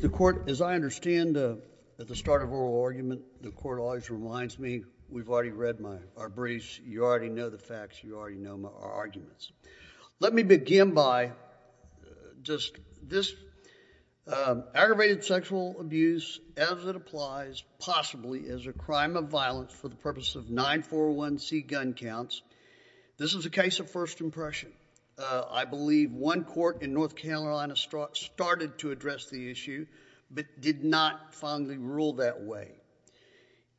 the court as I understand at the start of oral argument, the court always reminds me we've already read our briefs, you already know the facts, you already know our arguments. Let me begin by just this aggravated sexual abuse as it applies possibly as a crime of violence for the purpose of 941c gun counts. This is a case of first impression. I believe one court in North Carolina started to address the issue but did not fondly rule that way.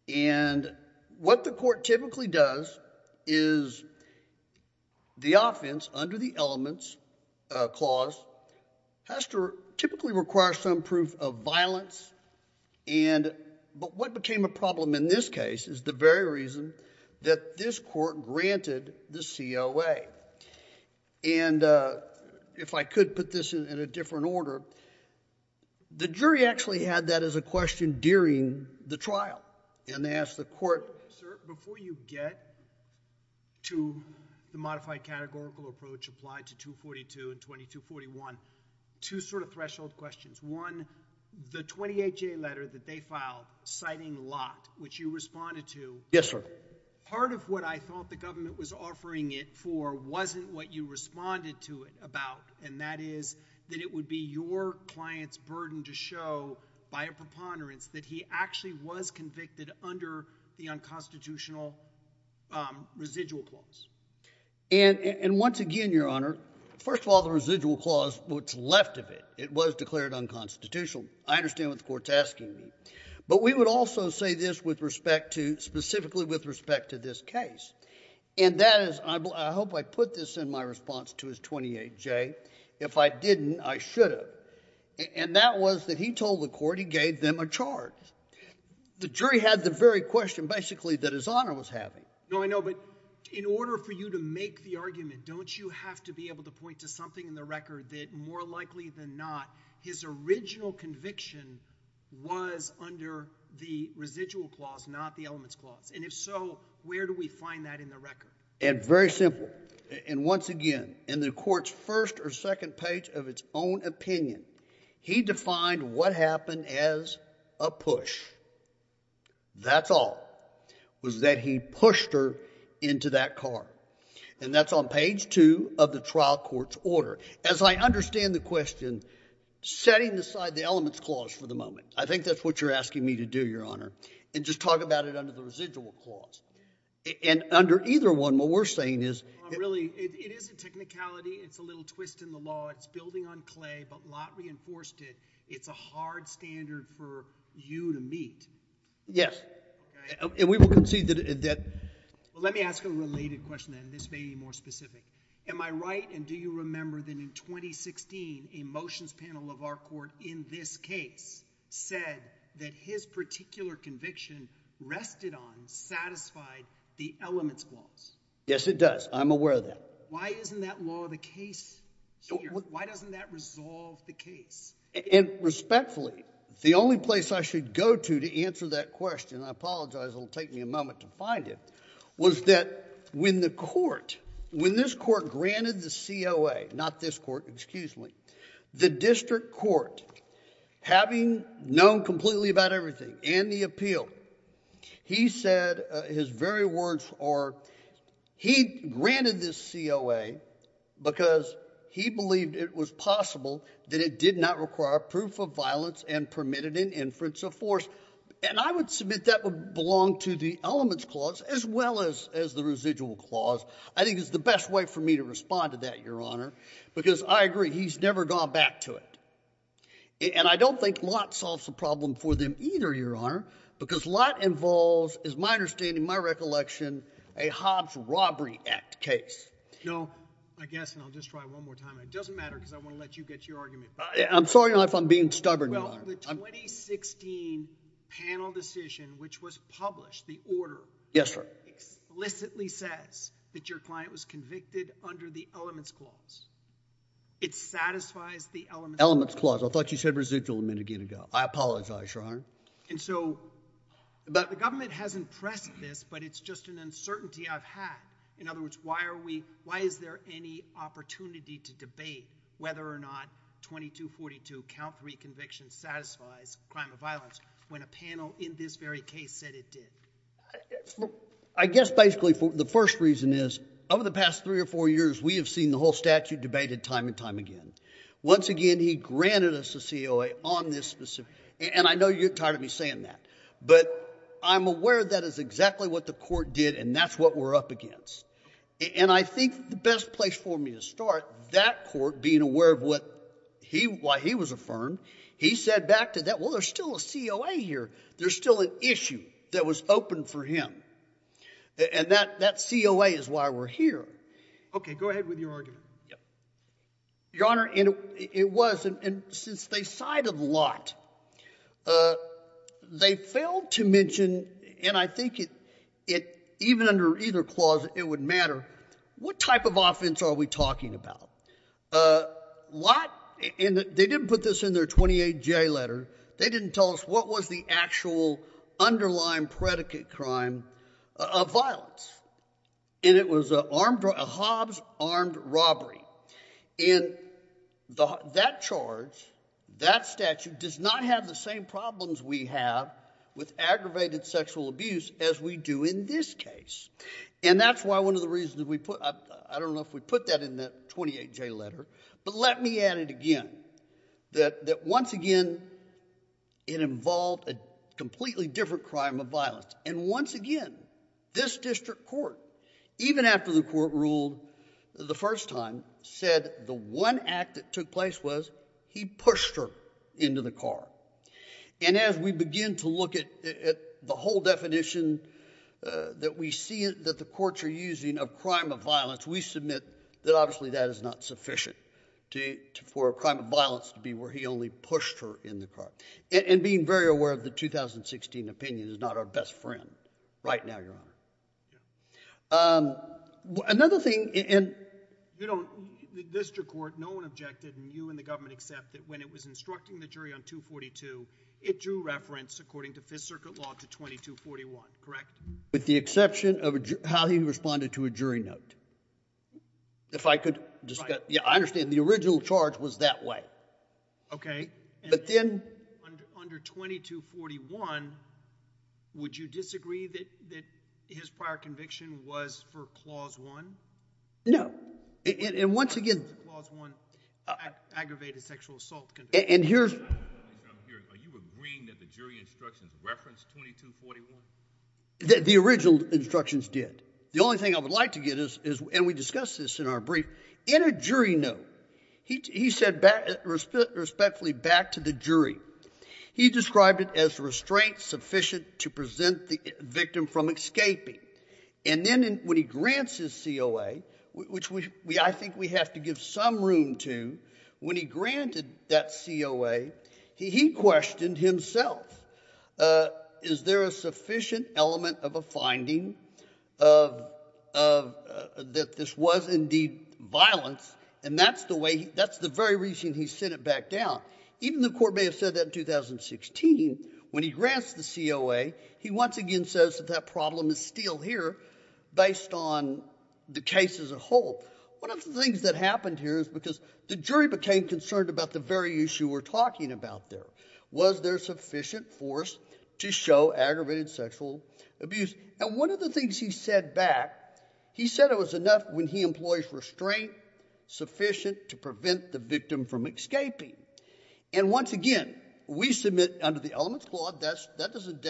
And what the court typically does is the offense under the elements clause has to typically require some proof of violence and but what became a problem in this case is the very reason that this court granted the COA. And if I could put this in a different order, the jury actually had that as a question during the trial and they asked the court, before you get to the modified categorical approach applied to 242 and 2241, two sort of threshold questions. One, the 28J letter that they filed citing Lott, which you responded to, part of what I thought the government was offering it for wasn't what you responded to it about and that is that it would be your client's burden to show by a preponderance that he actually was a constitutional residual clause. And once again, your honor, first of all, the residual clause, what's left of it, it was declared unconstitutional. I understand what the court's asking me. But we would also say this with respect to, specifically with respect to this case, and that is, I hope I put this in my response to his 28J. If I didn't, I should have. And that was that he told the court he gave them a charge. The jury had the very question, basically, that his honor was having. No, I know, but in order for you to make the argument, don't you have to be able to point to something in the record that, more likely than not, his original conviction was under the residual clause, not the elements clause? And if so, where do we find that in the record? And very simple, and once again, in the court's first or second page of its own opinion, he defined what happened as a push. That's all, was that he pushed her into that car. And that's on page two of the trial court's order. As I understand the question, setting aside the elements clause for the moment, I think that's what you're asking me to do, your honor, and just talk about it under the residual clause. And under either one, what we're saying is... There's a twist in the law. It's building on clay, but Lott reinforced it. It's a hard standard for you to meet. Yes. And we will concede that... Well, let me ask a related question then, this may be more specific. Am I right, and do you remember that in 2016, a motions panel of our court in this case said that his particular conviction rested on, satisfied the elements clause? Yes, it does. I'm aware of that. Why isn't that law the case here? Why doesn't that resolve the case? And respectfully, the only place I should go to to answer that question, I apologize, it'll take me a moment to find it, was that when the court, when this court granted the COA, not this court, excuse me, the district court, having known completely about everything and the appeal, he said his very words are... He granted this COA because he believed it was possible that it did not require proof of violence and permitted an inference of force. And I would submit that would belong to the elements clause as well as the residual clause. I think it's the best way for me to respond to that, Your Honor, because I agree, he's never gone back to it. And I don't think Lott solves the problem for them either, Your Honor, because Lott involves, is my understanding, my recollection, a Hobbs Robbery Act case. No, I guess, and I'll just try one more time. It doesn't matter because I want to let you get your argument. I'm sorry if I'm being stubborn, Your Honor. Well, the 2016 panel decision, which was published, the order- Yes, sir. Explicitly says that your client was convicted under the elements clause. It satisfies the elements clause. I thought you said residual a minute ago. I apologize, Your Honor. And so the government hasn't pressed this, but it's just an uncertainty I've had. In other words, why is there any opportunity to debate whether or not 2242, count three conviction, satisfies crime of violence when a panel in this very case said it did? I guess, basically, the first reason is over the past three or four years, we have seen the whole statute debated time and time again. Once again, he granted us a COA on this specific, and I know you're tired of me saying that, but I'm aware that is exactly what the court did, and that's what we're up against. And I think the best place for me to start, that court, being aware of what he, why he was affirmed, he said back to that, well, there's still a COA here. There's still an issue that was open for him. And that COA is why we're here. Okay, go ahead with your argument. Yeah. Your Honor, and it was, and since they cited Lott, they failed to mention, and I think it, even under either clause, it would matter, what type of offense are we talking about? Lott, and they didn't put this in their 28J letter. They didn't tell us what was the actual underlying predicate crime of violence. And it was a armed, a Hobbs armed robbery. And that charge, that statute does not have the same problems we have with aggravated sexual abuse as we do in this case. And that's why one of the reasons that we put, I don't know if we put that in the 28J letter, but let me add it again, that, that once again, it involved a completely different crime of violence. And once again, this district court, even after the court ruled the first time, said the one act that took place was he pushed her into the car. And as we begin to look at, at the whole definition that we see that the courts are of crime of violence, we submit that obviously that is not sufficient to, for a crime of violence to be where he only pushed her in the car. And being very aware of the 2016 opinion is not our best friend right now, Your Honor. Another thing, and you know, the district court, no one objected, and you and the government accept that when it was instructing the jury on 242, it drew reference, according to Fifth Amendment, it responded to a jury note. If I could just get, yeah, I understand the original charge was that way. Okay. But then. Under 2241, would you disagree that, that his prior conviction was for Clause 1? No. And, and once again. Clause 1, aggravated sexual assault conviction. And here's. Are you agreeing that the jury instructions referenced 2241? The, the original instructions did. The only thing I would like to get is, is, and we discussed this in our brief, in a jury note, he, he said back, respectfully, back to the jury. He described it as restraint sufficient to present the victim from escaping. And then when he grants his COA, which we, we, I think we have to give some room to, when he granted that COA, he, he questioned himself. Is there a sufficient element of a finding of, of, that this was indeed violence? And that's the way, that's the very reason he sent it back down. Even the court may have said that in 2016, when he grants the COA, he once again says that that problem is still here, based on the case as a whole. One of the things that happened here is because the jury became concerned about the very issue we're dealing with, whether there's sufficient force to show aggravated sexual abuse. And one of the things he said back, he said it was enough when he employs restraint sufficient to prevent the victim from escaping. And once again, we submit under the elements clause, that's, that doesn't,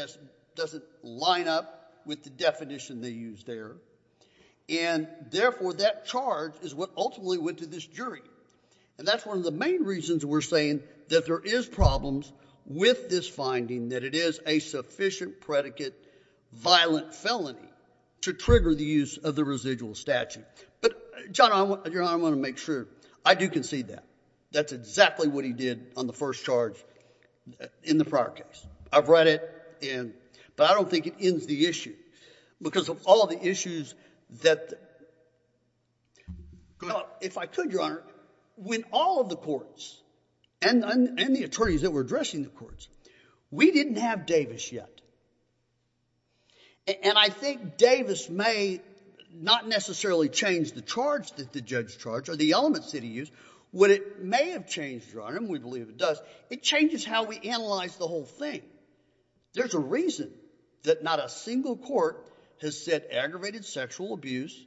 doesn't line up with the definition they used there. And therefore, that charge is what ultimately went to this jury. And that's one of the main reasons we're saying that there is problems with this finding, that it is a sufficient predicate violent felony to trigger the use of the residual statute. But, John, I want, Your Honor, I want to make sure, I do concede that. That's exactly what he did on the first charge in the prior case. I've read it, and, but I don't think it ends the issue. Because of all the issues that, if I could, Your Honor, when all of the courts, and, and, and the attorneys that were addressing the courts, we didn't have Davis yet. And I think Davis may not necessarily change the charge that the judge charged, or the elements that he used. What it may have changed, Your Honor, and we believe it does, it changes how we analyze the whole thing. There's a reason that not a single court has said aggravated sexual abuse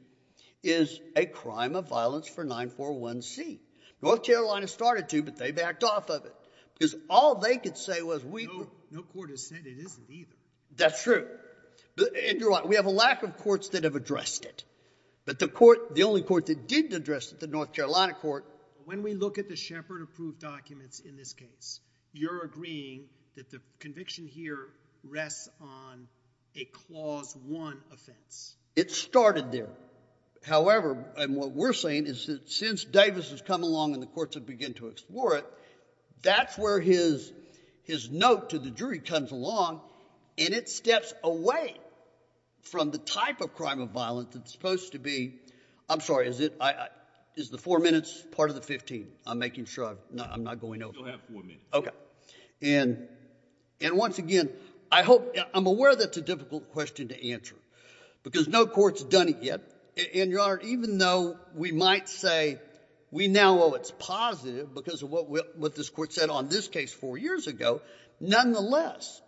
is a crime of violence for 941C. North Carolina started to, but they backed off of it. Because all they could say was we... No, no court has said it isn't either. That's true. But, and, Your Honor, we have a lack of courts that have addressed it. But the court, the only court that didn't address it, the North Carolina court... When we look at the Shepard approved documents in this case, you're agreeing that the conviction here rests on a clause one offense. It started there. However, and what we're saying is that since Davis has come along and the courts have begun to explore it, that's where his note to the jury comes along, and it steps away from the type of crime of violence that's supposed to be... I'm sorry, is it... Is the four minutes part of the 15? I'm making sure I'm not going over... You'll have four minutes. Okay. And once again, I hope... I'm aware that's a difficult question to answer. I might say we now owe it's positive because of what this court said on this case four years ago. Nonetheless,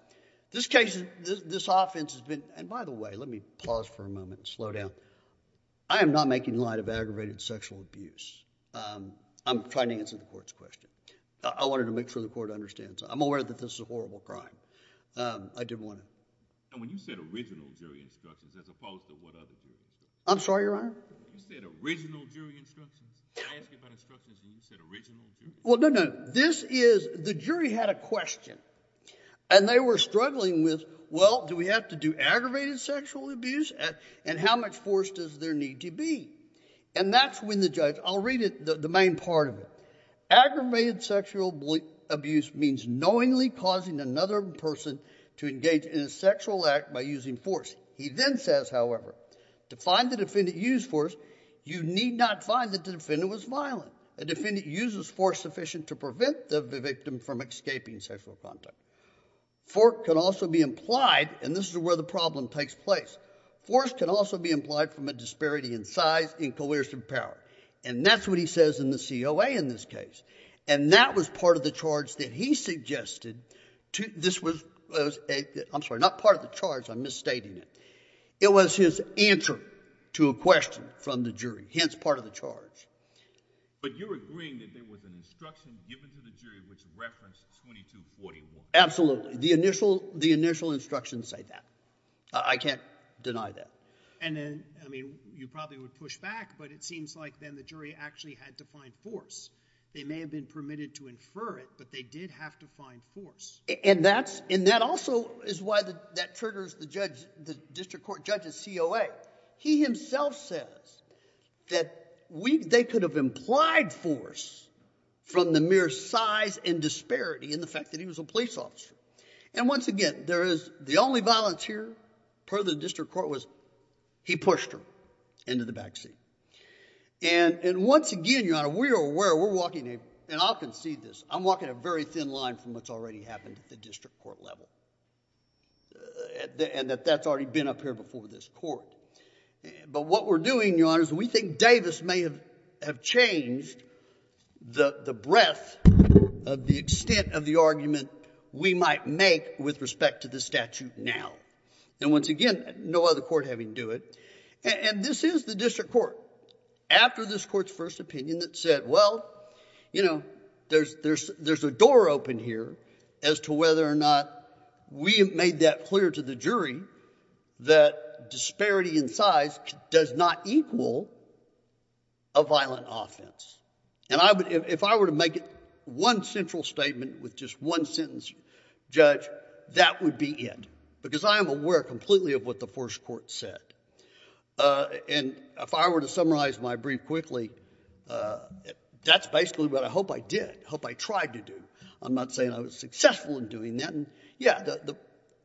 this case, this offense has been... And by the way, let me pause for a moment and slow down. I am not making light of aggravated sexual abuse. I'm trying to answer the court's question. I wanted to make sure the court understands. I'm aware that this is a horrible crime. I didn't want to... And when you said original jury instructions as opposed to what other jurors... I'm sorry, Your Honor? You said original jury instructions. I asked you about instructions and you said original jury instructions. Well, no, no. This is... The jury had a question. And they were struggling with, well, do we have to do aggravated sexual abuse? And how much force does there need to be? And that's when the judge... I'll read it, the main part of it. Aggravated sexual abuse means knowingly causing another person to engage in a sexual act by using force. He then says, however, to find the defendant used force, you need not find that the defendant was violent. A defendant uses force sufficient to prevent the victim from escaping sexual contact. Force can also be implied, and this is where the problem takes place. Force can also be implied from a disparity in size and coercive power. And that's what he says in the COA in this case. And that was part of the charge that he suggested to... This was... I'm sorry, not part of the charge. I'm requesting from the jury, hence part of the charge. But you're agreeing that there was an instruction given to the jury which referenced 2241? Absolutely. The initial instructions say that. I can't deny that. And then, I mean, you probably would push back, but it seems like then the jury actually had to find force. They may have been permitted to infer it, but they did have to find force. And that's... And that also is why that triggers the judge, the district court judge's COA. He himself says that they could have implied force from the mere size and disparity in the fact that he was a police officer. And once again, there is... The only violence here, per the district court, was he pushed her into the back seat. And once again, Your Honor, we're aware, we're walking a... And I'll concede this. I'm walking a very thin line from what's already happened at the district court level. And that that's already been up here before this court. But what we're doing, Your Honor, is we think Davis may have changed the breadth of the extent of the argument we might make with respect to the statute now. And once again, no other court having to do it. And this is the district court. After this court's first opinion that said, well, you know, there's a door open here as to whether or not we have made that clear to the jury that disparity in size does not equal a violent offense. And if I were to make one central statement with just one sentence, Judge, that would be it. Because I am aware completely of what the first court said. And if I were to summarize my brief quickly, that's basically what I hope I did, hope I tried to do. I'm not saying I was successful in doing that. Yeah,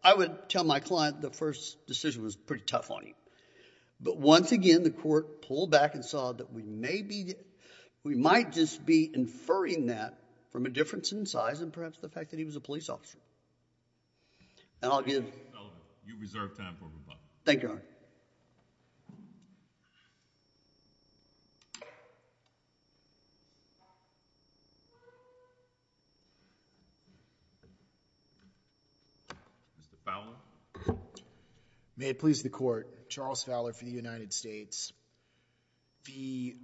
I would tell my client the first decision was pretty tough on him. But once again, the court pulled back and saw that we may be... we might just be inferring that from a difference in size and perhaps the fact that he was a police officer. And I'll give... Mr. Fowler? May it please the Court. Charles Fowler for the United States. The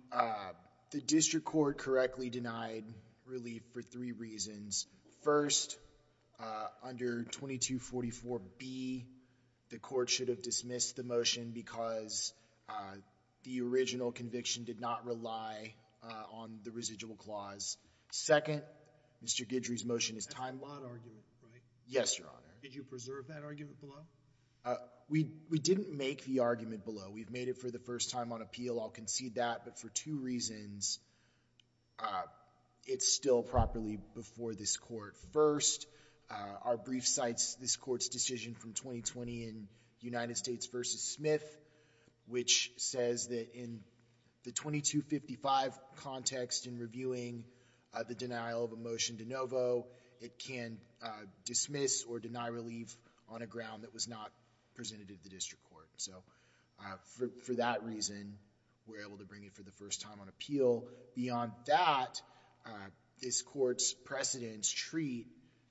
district court correctly denied relief for three reasons. First, under 2244B, the court should have dismissed the motion because the original conviction did not rely on the residual clause. Second, Mr. Guidry's motion is time... That's a lot of argument, right? Yes, Your Honor. Did you preserve that argument below? We didn't make the argument below. We've made it for the first time on appeal. I'll concede that. But for two reasons, it's still properly before this court. First, our brief cites this court's decision from 2020 in United States versus Smith, which says that in the 2255 context in reviewing the denial of a motion de novo, it can dismiss or deny relief on a ground that was not presented to the district court. So for that reason, we're able to bring it for the first time on appeal. Beyond that, this court's precedents treat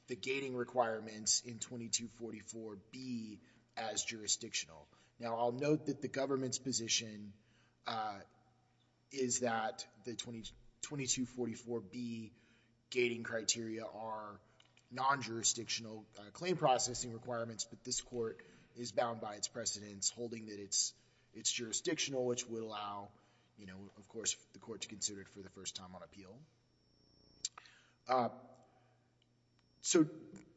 the gating requirements in 2244B as jurisdictional. Now, I'll note that the government's position is that the 2244B gating criteria are non-jurisdictional claim processing requirements, but this court is bound by its precedents, holding that it's jurisdictional, which would allow, you know, of course, the court to consider it for the first time on appeal. So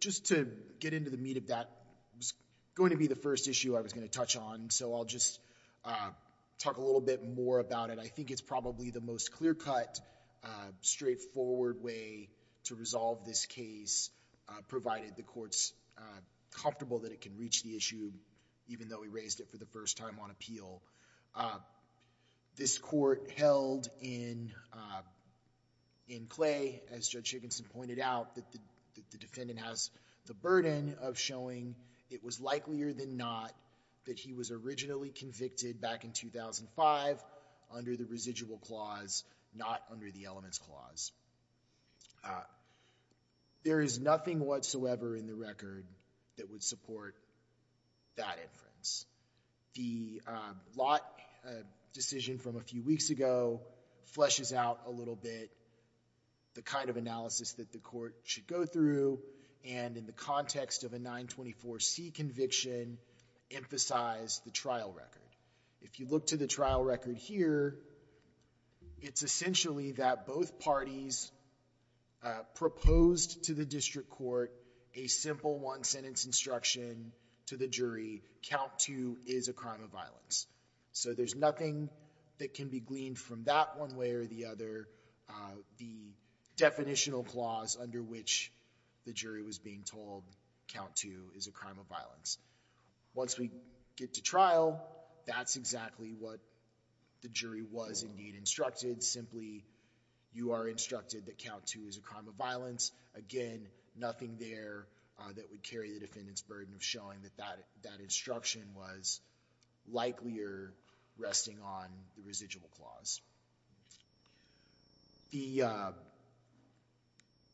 just to get into the meat of that, it was going to be the first issue I was going to touch on, so I'll just talk a little bit more about it. I think it's probably the most clear-cut, straightforward way to resolve this case, provided the court's comfortable that it can reach the issue, even though we know that the court held in Clay, as Judge Higginson pointed out, that the defendant has the burden of showing it was likelier than not that he was originally convicted back in 2005 under the residual clause, not under the elements clause. There is nothing whatsoever in the record that would fleshes out a little bit the kind of analysis that the court should go through, and in the context of a 924C conviction, emphasize the trial record. If you look to the trial record here, it's essentially that both parties proposed to the district court a simple one-sentence instruction to the jury, count two is a crime of violence. So there's nothing that can be gleaned from that one way or the other, the definitional clause under which the jury was being told count two is a crime of violence. Once we get to trial, that's exactly what the jury was, indeed, instructed. Simply, you are instructed that count two is a crime of violence. Again, nothing there that would carry the defendant's burden of showing that that instruction was likelier resting on the residual clause.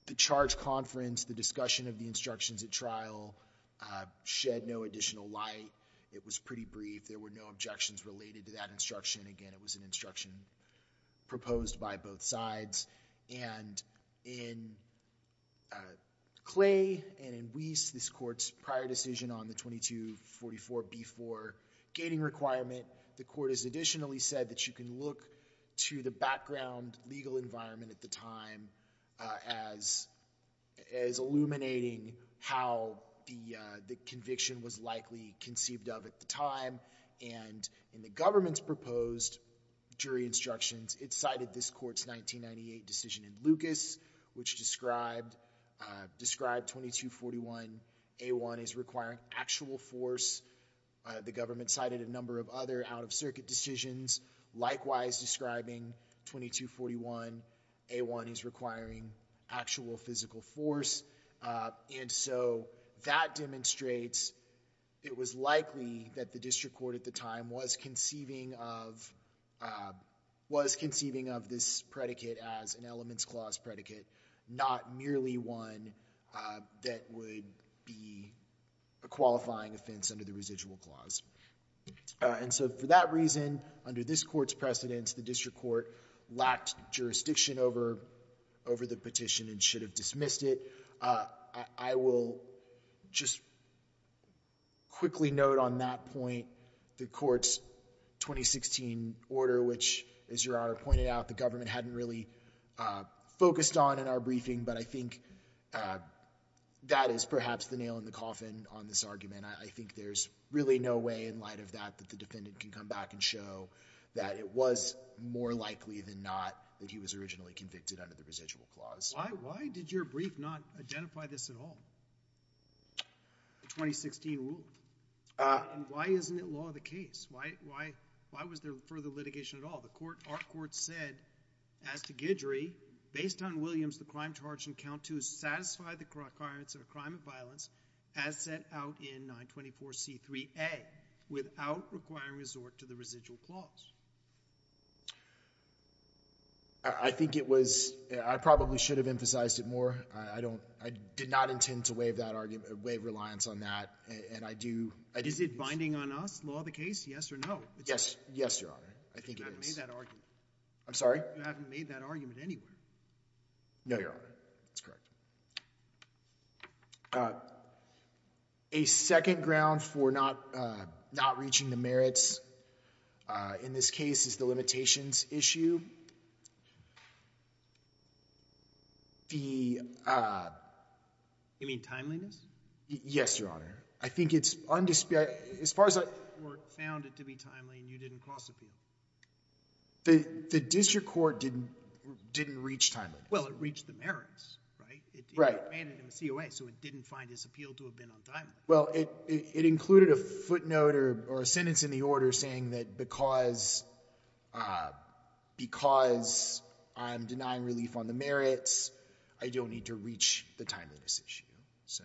The charge conference, the discussion of the instructions at trial shed no additional light. It was pretty brief. There were no objections related to that instruction. Again, it was an instruction proposed by both sides, and in Clay and in Weiss, this court's prior decision on the 2244B4 gating requirement, the court has additionally said that you can look to the background legal environment at the time as illuminating how the conviction was likely conceived of at the time, and in the government's proposed jury instructions, it cited this court's 1998 decision in Lucas, which described 2241A1 as requiring actual force. The government cited a number of other out-of-circuit decisions, likewise describing 2241A1 as requiring actual physical force, and so that demonstrates it was likely that the district court at the time was conceiving of this predicate as an elements clause predicate, not merely one that would be a qualifying offense under the residual clause, and so for that reason, under this court's precedence, the district court lacked jurisdiction over the petition and should have dismissed it. I will just quickly note on that point the court's 2016 order, which, as Your Honor pointed out, the government hadn't really focused on in our briefing, but I think that is perhaps the nail in the coffin on this argument. I think there's really no way in light of that that the defendant can come back and show that it was more likely than not that he was originally convicted under the residual clause. Why did your brief not identify this at all, the 2016 rule? And why isn't it law of the case? Why was there further litigation at all? Our court said, as to Guidry, based on Williams, the crime charge in count two satisfied the requirements of a crime of violence as set out in 924C3A without requiring resort to the residual clause. I think it was, I probably should have emphasized it more. I don't, I did not intend to waive that argument, waive reliance on that, and I do. Is it binding on us, law of the case, yes or no? Yes, yes, Your Honor, I think it is. You haven't made that argument. I'm sorry? You haven't made that argument anywhere. No, Your Honor, that's correct. A second ground for not, not reaching the merits in this case is the limitations issue. The, you mean timeliness? Yes, Your Honor. I think it's undisputed, as far as I, the district court found it to be timely and you didn't cross appeal. The district court didn't, didn't reach timeliness. Well, it reached the merits, right? Right. It granted him a COA, so it didn't find his appeal to have been on time. Well, it, it included a footnote or a sentence in the order saying that because, uh, because I'm denying relief on the merits, I don't need to reach the timeliness issue. So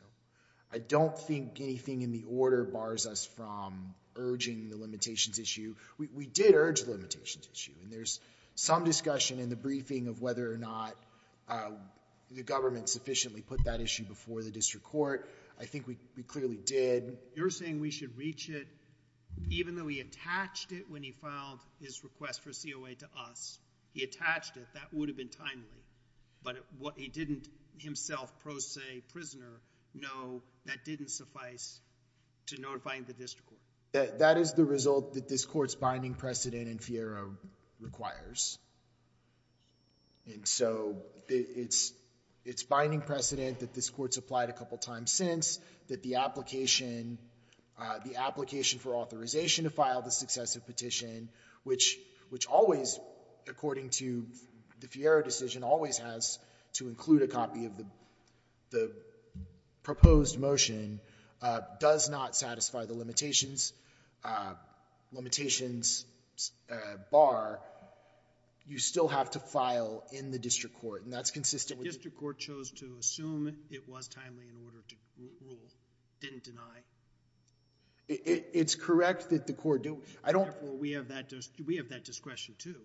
I don't think anything in the order bars us from urging the limitations issue. We did urge the limitations issue and there's some discussion in the briefing of whether or not, uh, the government sufficiently put that issue before the district court. I think we, we clearly did. You're saying we should reach it even though he attached it when he filed his request for COA to us, he attached it, that would have been timely, but what he didn't himself, pro se, prisoner, no, that didn't suffice to notify the district court. That is the result that this court's requires. And so it's, it's binding precedent that this court's applied a couple of times since that the application, uh, the application for authorization to file the successive petition, which, which always, according to the Fiero decision, always has to include a copy of the, the proposed motion, uh, does not satisfy the limitations, uh, limitations, uh, bar. You still have to file in the district court and that's consistent with... The district court chose to assume it was timely in order to rule, didn't deny. It's correct that the court do. I don't... Therefore, we have that, we have that discretion too.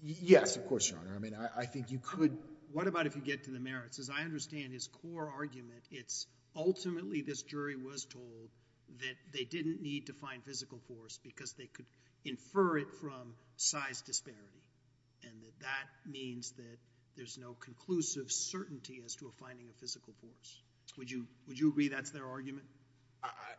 Yes, of course, Your Honor. I mean, I think you could... What about if you get to the merits? As I understand his core argument, it's ultimately this jury was told that they didn't need to find physical force because they could infer it from size disparity. And that that means that there's no conclusive certainty as to a finding of physical force. Would you, would you agree that's their argument?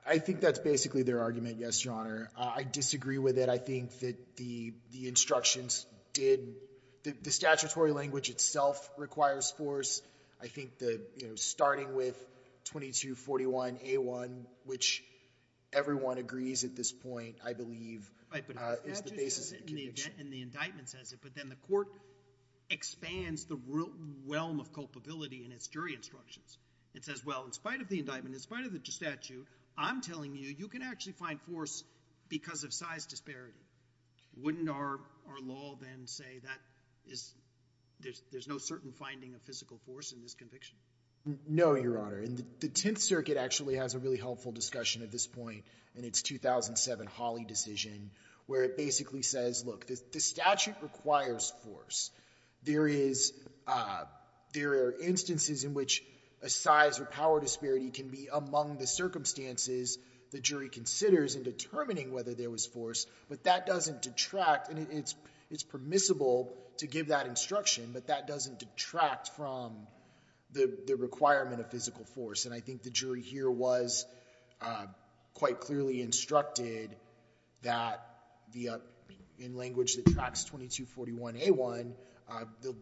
I think that's basically their argument. Yes, Your Honor. I disagree with it. I think that the instructions did... The statutory language itself requires force. I think that, you know, starting with 2241A1, which everyone agrees at this point, I believe, is the basis of the conviction. And the indictment says it, but then the court expands the realm of culpability in its jury instructions. It says, well, in spite of the indictment, in spite of the statute, I'm telling you, you can actually find force because of size disparity. Wouldn't our law then say that there's no certain finding of physical force in this conviction? No, Your Honor. And the Tenth Circuit actually has a really helpful discussion at this point in its 2007 Hawley decision, where it basically says, look, the statute requires force. There is... There are instances in which a size or power disparity can be among the circumstances the jury considers in determining whether there was force, but that doesn't detract. And it's permissible to give that instruction, but that doesn't detract from the requirement of physical force. And I think the jury here was quite clearly instructed that the... In language that tracks 2241A1,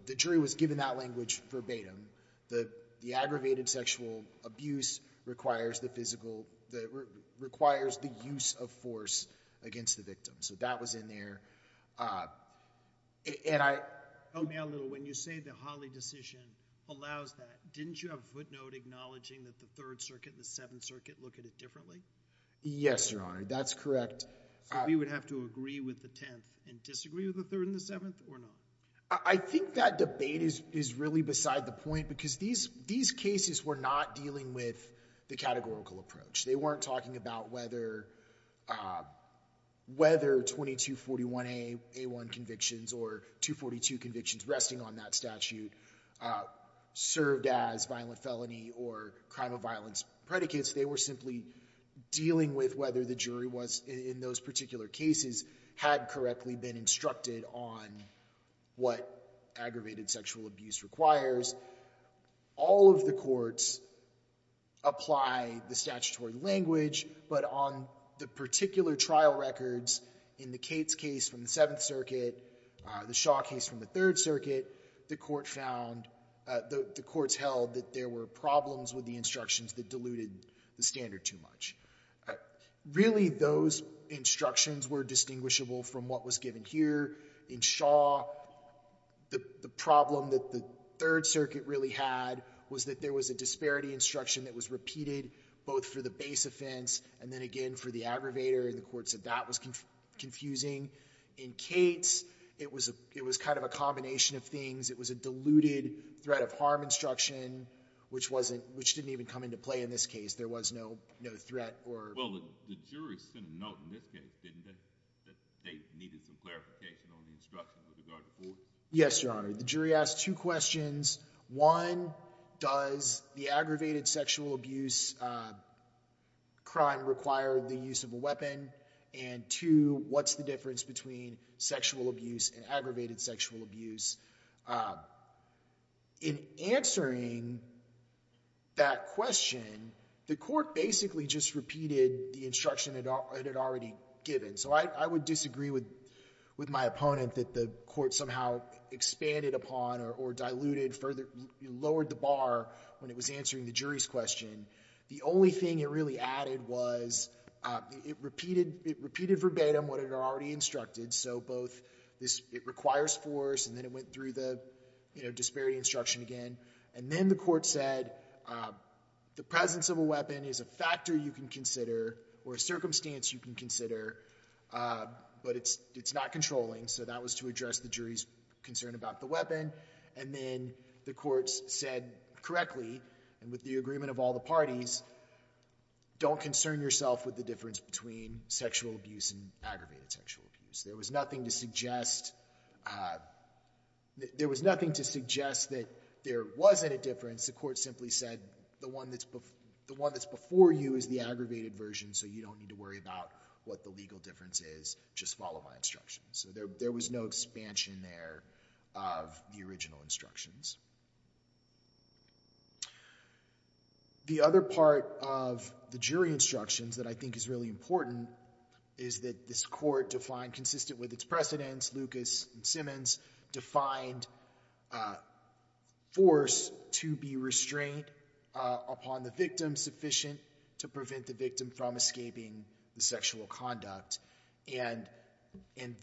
the jury was given that language verbatim. The aggravated sexual abuse requires the physical... Requires the use of force against the victim. So that was in there. And I... Help me out a little. When you say the Hawley decision allows that, didn't you have a footnote acknowledging that the Third Circuit and the Seventh Circuit look at it differently? Yes, Your Honor. That's correct. So we would have to agree with the Tenth and disagree with the Third and the Seventh or not? I think that debate is really beside the point because these cases were not dealing with the categorical approach. They weren't talking about whether 2241A1 convictions or 242 convictions resting on that statute served as violent felony or crime of violence predicates. They were simply dealing with whether the jury was, in those particular cases, had correctly been instructed on what aggravated sexual abuse requires. All of the courts apply the statutory language, but on the particular trial records in the Cates case from the Seventh Circuit, the Shaw case from the Third Circuit, the court found... The courts held that there were problems with the instructions that diluted the standard too much. Really, those instructions were indistinguishable from what was given here. In Shaw, the problem that the Third Circuit really had was that there was a disparity instruction that was repeated both for the base offense and then again for the aggravator, and the court said that was confusing. In Cates, it was kind of a combination of things. It was a diluted threat of harm instruction, which didn't even come into play in this case. There was no threat or... Well, the jury sent a note in this case, didn't they? That they needed some clarification on the instructions with regard to force? Yes, Your Honor. The jury asked two questions. One, does the aggravated sexual abuse crime require the use of a weapon? And two, what's the difference between sexual abuse and aggravated sexual abuse? In answering that question, the court basically just repeated the instruction it had already given. So I would disagree with my opponent that the court somehow expanded upon or diluted, further lowered the bar when it was answering the jury's question. The only thing it really added was it repeated verbatim what it had already instructed, so both this... It requires force, and then it went through the disparity instruction again, and then the circumstance you can consider, but it's not controlling. So that was to address the jury's concern about the weapon. And then the court said correctly, and with the agreement of all the parties, don't concern yourself with the difference between sexual abuse and aggravated sexual abuse. There was nothing to suggest that there wasn't a difference. The court simply said, the one that's before you is the aggravated version, so you don't need to worry about what the legal difference is. Just follow my instructions. So there was no expansion there of the original instructions. The other part of the jury instructions that I think is really important is that this court defined, consistent with its precedents, Lucas and Simmons defined a force to be restrained upon the victim sufficient to prevent the victim from escaping the sexual conduct. And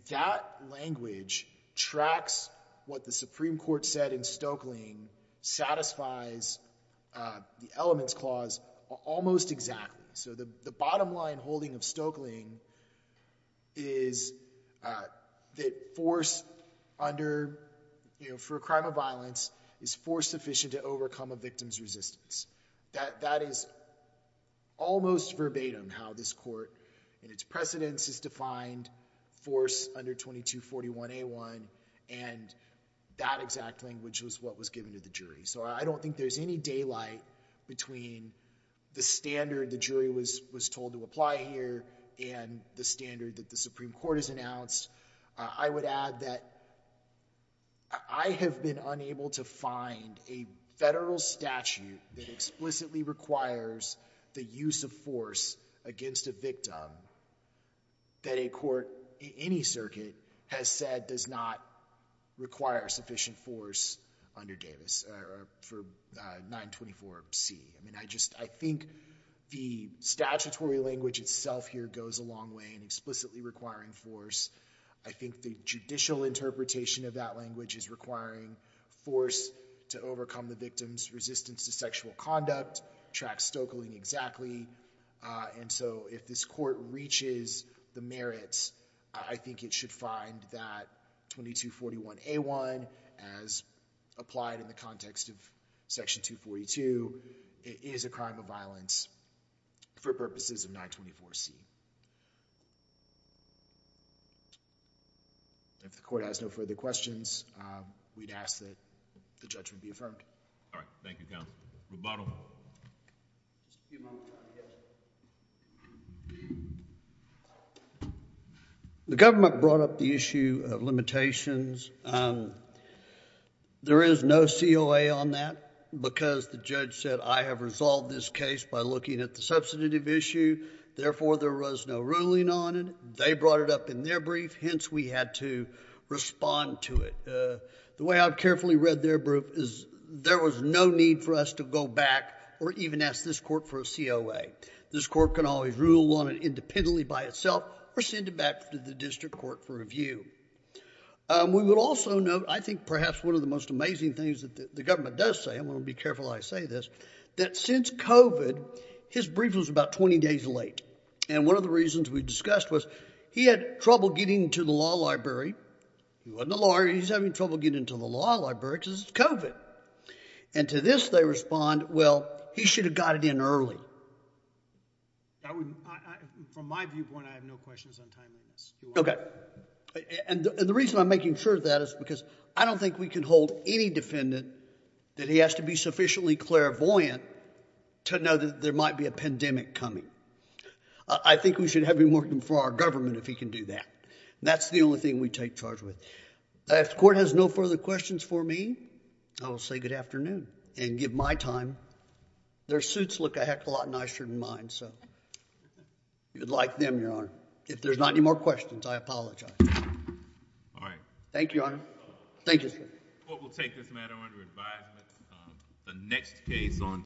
that language tracks what the Supreme Court said in Stokeling, satisfies the Elements Clause almost exactly. So the bottom line holding of Stokeling is that force under, for a crime of violence, is force sufficient to overcome a victim's resistance. That is almost verbatim how this court and its precedents is defined, force under 2241A1, and that exact language was what was given to the jury. So I don't think there's any daylight between the standard the jury was told to apply here and the standard that the Supreme Court has announced. I would add that I have been unable to find a federal statute that explicitly requires the use of force against a victim that a court, any circuit, has said does not require sufficient force under Davis, or for 924C. I mean, I just, I think the statutory language itself here goes a long way in explicitly requiring force. I think the judicial interpretation of that language is requiring force to overcome the victim's resistance to sexual conduct, tracks Stokeling exactly. And so if this court reaches the merits, I think it should find that 2241A1, as applied in the context of section 242, is a crime of violence for purposes of 924C. If the court has no further questions, we'd ask that the judgment be affirmed. All right. Thank you, counsel. Roboto. The government brought up the issue of limitations. There is no COA on that, because the judge said, I have resolved this case by looking at the substantive issue. Therefore, there was no ruling on it. They brought it up in their brief. Hence, we had to there was no need for us to go back or even ask this court for a COA. This court can always rule on it independently by itself or send it back to the district court for review. We would also note, I think perhaps one of the most amazing things that the government does say, I want to be careful when I say this, that since COVID, his brief was about 20 days late. And one of the reasons we discussed was he had trouble getting to the law library. He wasn't a lawyer. He's having trouble getting to the law library because it's COVID. And to this, they respond, well, he should have got it in early. From my viewpoint, I have no questions on timing. Okay. And the reason I'm making sure of that is because I don't think we can hold any defendant that he has to be sufficiently clairvoyant to know that there might be a pandemic coming. I think we should have him working for our government if he can do that. That's the only thing we take charge with. If the court has no further questions for me, I will say good afternoon and give my time. Their suits look a heck of a lot nicer than mine. So you'd like them, Your Honor. If there's not any more questions, I apologize. All right. Thank you, Your Honor. Thank you, sir. Court will take this matter under advisement. The next case on